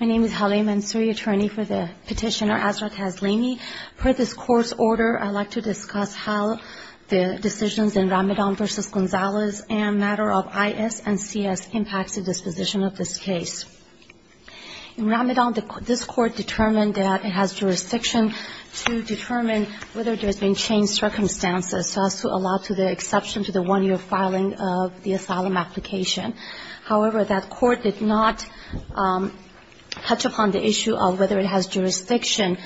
My name is Haleem Ansari, attorney for the petitioner Azra Taslimi. Per this court's order, I'd like to discuss how the decisions in Ramadan v. Gonzalez and a matter of I.S. and C.S. impacts the disposition of this case. In Ramadan, this court determined that it has jurisdiction to determine whether there's been changed circumstances so as to allow to the exception to the one-year filing of the asylum application. However, that court did not touch upon the issue of whether it has jurisdiction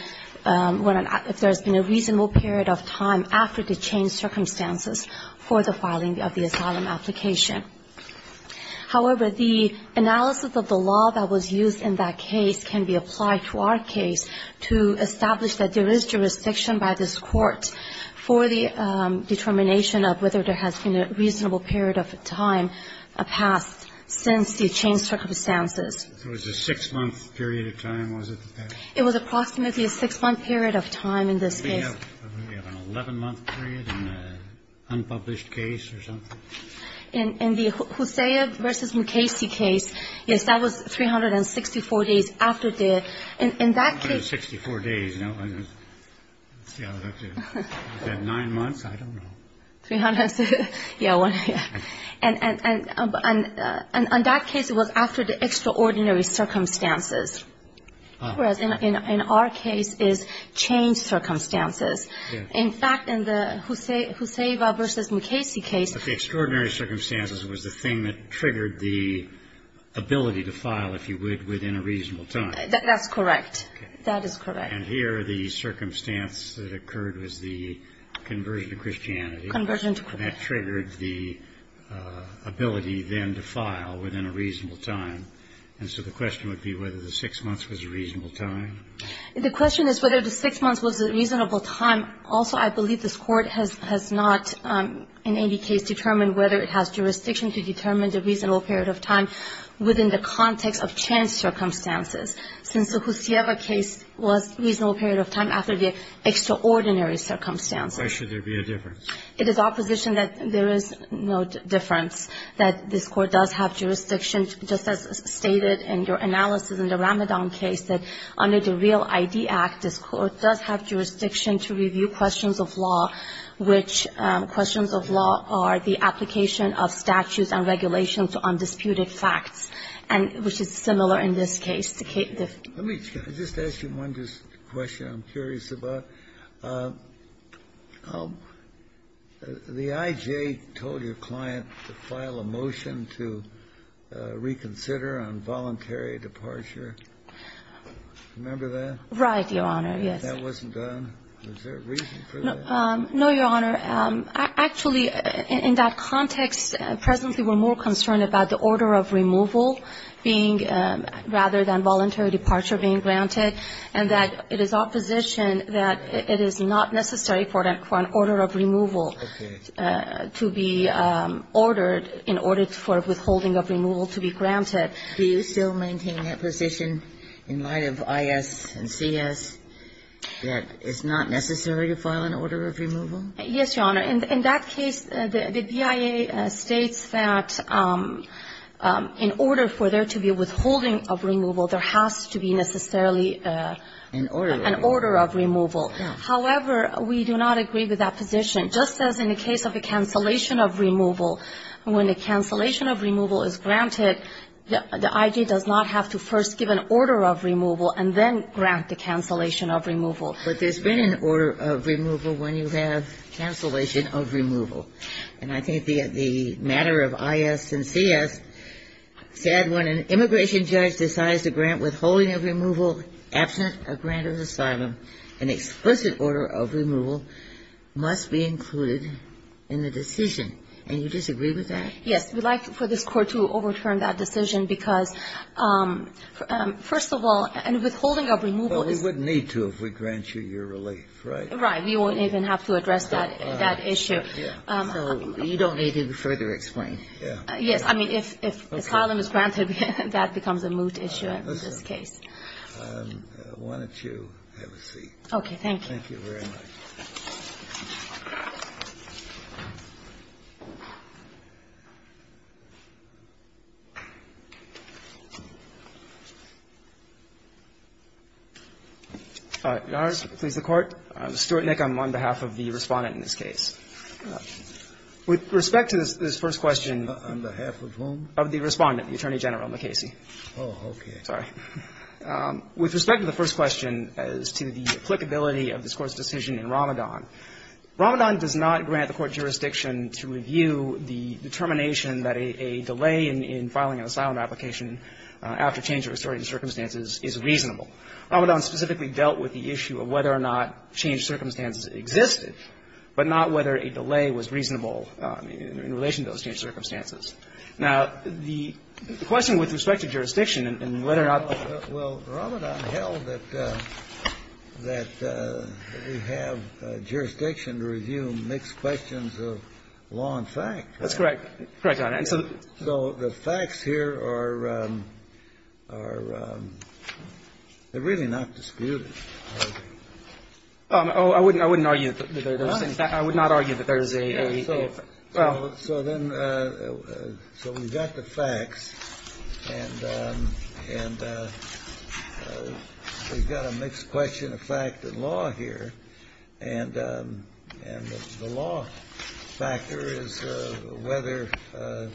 if there's been a reasonable period of time after the changed circumstances for the filing of the asylum application. However, the analysis of the law that was used in that case can be applied to our case to establish that there is jurisdiction by this court for the determination of whether there has been a reasonable period of time passed since the changed circumstances. It was a six-month period of time, was it? It was approximately a six-month period of time in this case. Do we have an 11-month period in an unpublished case or something? In the Huseyva v. Mukasey case, yes, that was 364 days after the ---- 364 days. Is that nine months? I don't know. Yeah. And on that case, it was after the extraordinary circumstances, whereas in our case, it's changed circumstances. In fact, in the Huseyva v. Mukasey case ---- But the extraordinary circumstances was the thing that triggered the ability to file, if you would, within a reasonable time. That's correct. That is correct. And here the circumstance that occurred was the conversion to Christianity. Conversion to Christianity. That triggered the ability then to file within a reasonable time. And so the question would be whether the six months was a reasonable time. The question is whether the six months was a reasonable time. Also, I believe this Court has not in any case determined whether it has jurisdiction to determine the reasonable period of time within the context of chance circumstances, since the Huseyva case was a reasonable period of time after the extraordinary circumstances. Why should there be a difference? It is our position that there is no difference, that this Court does have jurisdiction, just as stated in your analysis in the Ramadan case, that under the Real ID Act, this Court does have jurisdiction to review questions of law, which questions of law are the application of statutes and regulations to undisputed facts, and which is similar in this case. Let me just ask you one question I'm curious about. The I.J. told your client to file a motion to reconsider on voluntary departure. Remember that? Right, Your Honor, yes. That wasn't done. Was there a reason for that? No, Your Honor. Actually, in that context, presently we're more concerned about the order of removal being rather than voluntary departure being granted, and that it is our position that it is not necessary for an order of removal to be ordered in order for withholding of removal to be granted. Do you still maintain that position in light of I.S. and C.S., that it's not necessary to file an order of removal? Yes, Your Honor. In that case, the BIA states that in order for there to be a withholding of removal, there has to be necessarily an order of removal. However, we do not agree with that position. Just as in the case of the cancellation of removal, when the cancellation of removal is granted, the I.J. does not have to first give an order of removal and then grant the cancellation of removal. But there's been an order of removal when you have cancellation of removal. And I think the matter of I.S. and C.S. said when an immigration judge decides to grant withholding of removal absent a grant of asylum, an explicit order of removal must be included in the decision. And you disagree with that? Yes. We'd like for this Court to overturn that decision because, first of all, a withholding of removal is not necessary. But we wouldn't need to if we grant you your relief, right? We won't even have to address that issue. So you don't need to further explain. Yes. I mean, if asylum is granted, that becomes a moot issue in this case. Why don't you have a seat? Okay. Thank you very much. All right. Your Honors, please, the Court. I'm Stuart Nick. I'm on behalf of the Respondent in this case. With respect to this first question. On behalf of whom? Of the Respondent, the Attorney General, McCasey. Oh, okay. Sorry. With respect to the first question as to the applicability of this Court's decision in Ramadan, Ramadan does not grant the Court jurisdiction to review the determination that a delay in filing an asylum application after change of historic circumstances is reasonable. Ramadan specifically dealt with the issue of whether or not change circumstances existed, but not whether a delay was reasonable in relation to those change circumstances. Now, the question with respect to jurisdiction and whether or not the ---- Well, Ramadan held that we have jurisdiction to review mixed questions of law and fact. That's correct. Correct, Your Honor. And so the facts here are really not disputed. Oh, I wouldn't argue that there's a ---- I would not argue that there's a ---- Well ---- So then, so we've got the facts, and we've got a mixed question of fact and law here, and the law factor is whether the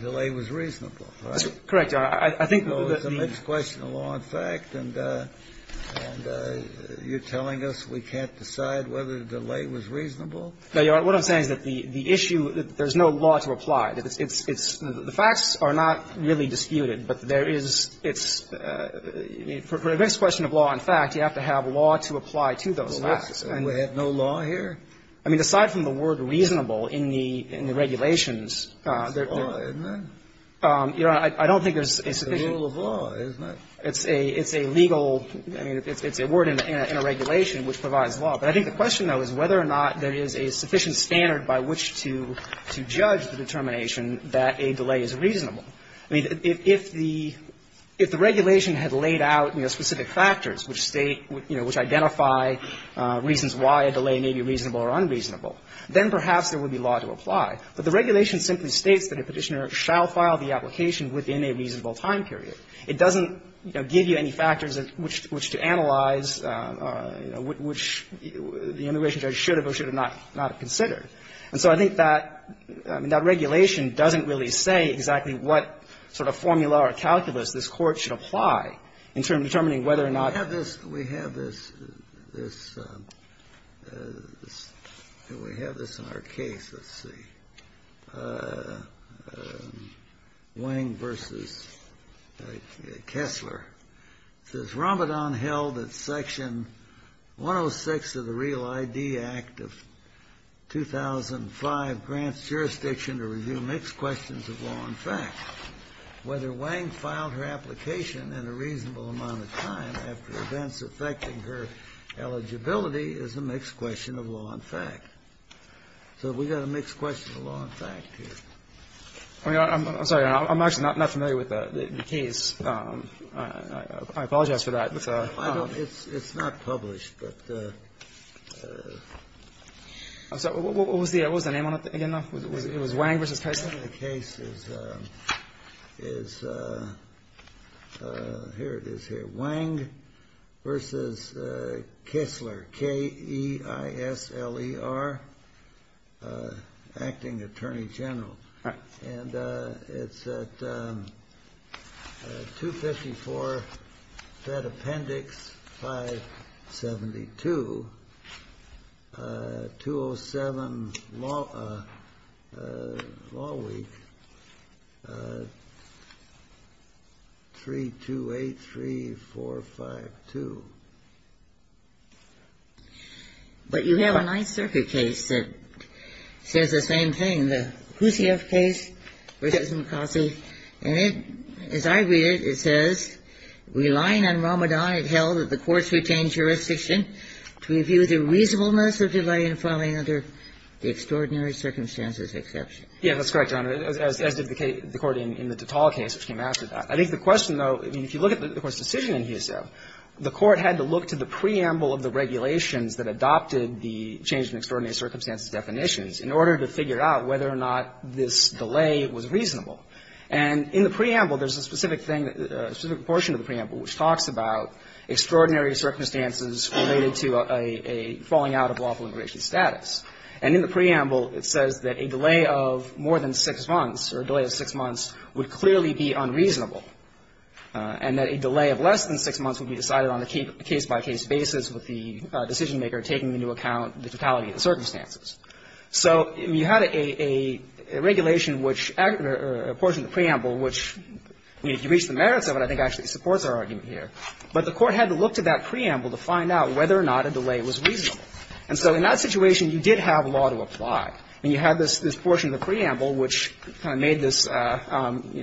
delay was reasonable, right? Correct, Your Honor. I think that the ---- So it's a mixed question of law and fact, and you're telling us we can't decide whether the delay was reasonable? No, Your Honor. What I'm saying is that the issue, there's no law to apply. It's the facts are not really disputed, but there is, it's, for a mixed question of law and fact, you have to have law to apply to those facts. And we have no law here? I mean, aside from the word reasonable in the regulations, there's no ---- It's a law, isn't it? Your Honor, I don't think there's a sufficient ---- It's a rule of law, isn't it? It's a legal, I mean, it's a word in a regulation which provides law. But I think the question, though, is whether or not there is a sufficient standard by which to judge the determination that a delay is reasonable. I mean, if the regulation had laid out, you know, specific factors which state, you know, which identify reasons why a delay may be reasonable or unreasonable, then perhaps there would be law to apply. But the regulation simply states that a Petitioner shall file the application within a reasonable time period. It doesn't, you know, give you any factors which to analyze, you know, which the immigration judge should have or should have not considered. And so I think that, I mean, that regulation doesn't really say exactly what sort of formula or calculus this Court should apply in determining whether or not ---- We have this, we have this, this, we have this in our case. Let's see. Wang v. Kessler. It says, Ramadan held that Section 106 of the Real ID Act of 2005 grants jurisdiction to review mixed questions of law and fact. Whether Wang filed her application in a reasonable amount of time after events affecting her eligibility is a mixed question of law and fact. So we've got a mixed question of law and fact here. I'm sorry. I'm actually not familiar with the case. I apologize for that. It's not published. I'm sorry. What was the name on it again, though? It was Wang v. Kessler? The name of the case is, here it is here. Wang v. Kessler, K-E-I-S-L-E-R, Acting Attorney General. And it's at 254 Fed Appendix 572, 207 Law Week, 328345. But you have a Ninth Circuit case that says the same thing, the Houssieff case versus McCossie. And it, as I read it, it says, relying on Ramadan, it held that the courts retained jurisdiction to review the reasonableness of delay in filing under the extraordinary circumstances exception. Yes, that's correct, Your Honor, as did the court in the Tatal case, which came after I think the question, though, if you look at the court's decision in Houssieff, the court had to look to the preamble of the regulations that adopted the change in extraordinary circumstances definitions in order to figure out whether or not this delay was reasonable. And in the preamble, there's a specific thing, a specific portion of the preamble which talks about extraordinary circumstances related to a falling out of lawful immigration status. And in the preamble, it says that a delay of more than six months or a delay of six months would be reasonable, and that a delay of less than six months would be decided on a case-by-case basis with the decisionmaker taking into account the totality of the circumstances. So you had a regulation which or a portion of the preamble which, I mean, if you reach the merits of it, I think actually supports our argument here. But the court had to look to that preamble to find out whether or not a delay was reasonable. And so in that situation, you did have law to apply. And you had this portion of the preamble which kind of made this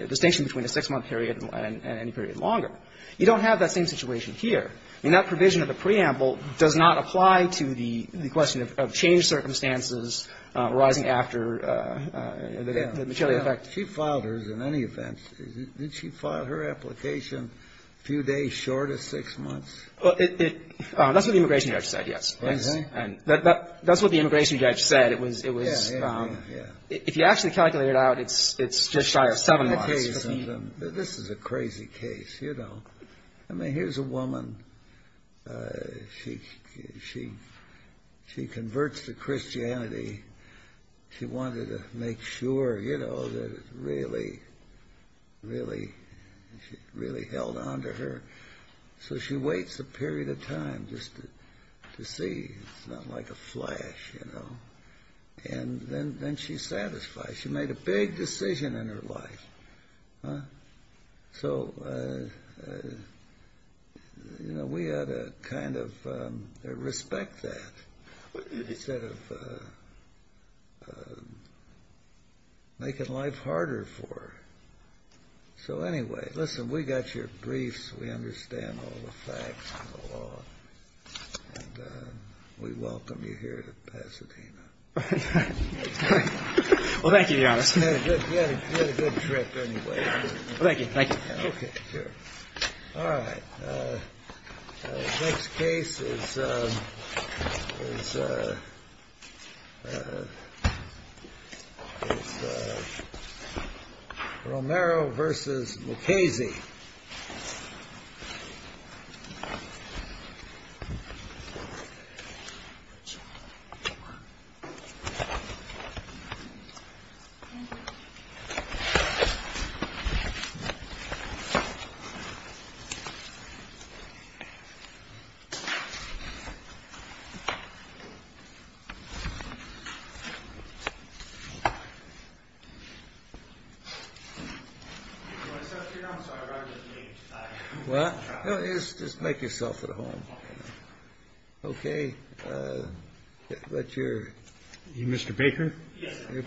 distinction between a six-month period and any period longer. You don't have that same situation here. I mean, that provision of the preamble does not apply to the question of changed circumstances arising after the material effect. Kennedy. She filed hers in any event. Did she file her application a few days short of six months? That's what the immigration judge said, yes. That's what the immigration judge said. If you actually calculate it out, it's just shy of seven months. This is a crazy case, you know. I mean, here's a woman. She converts to Christianity. She wanted to make sure, you know, that it really, really held on to her. So she waits a period of time just to see. It's not like a flash, you know. And then she's satisfied. She made a big decision in her life. So, you know, we ought to kind of respect that instead of making life harder for her. So, anyway, listen, we got your briefs. We understand all the facts and the law. And we welcome you here to Pasadena. Well, thank you, Your Honor. You had a good trip, anyway. Thank you. Thank you. Okay, sure. All right. The next case is Romero v. Lucchese. Thank you.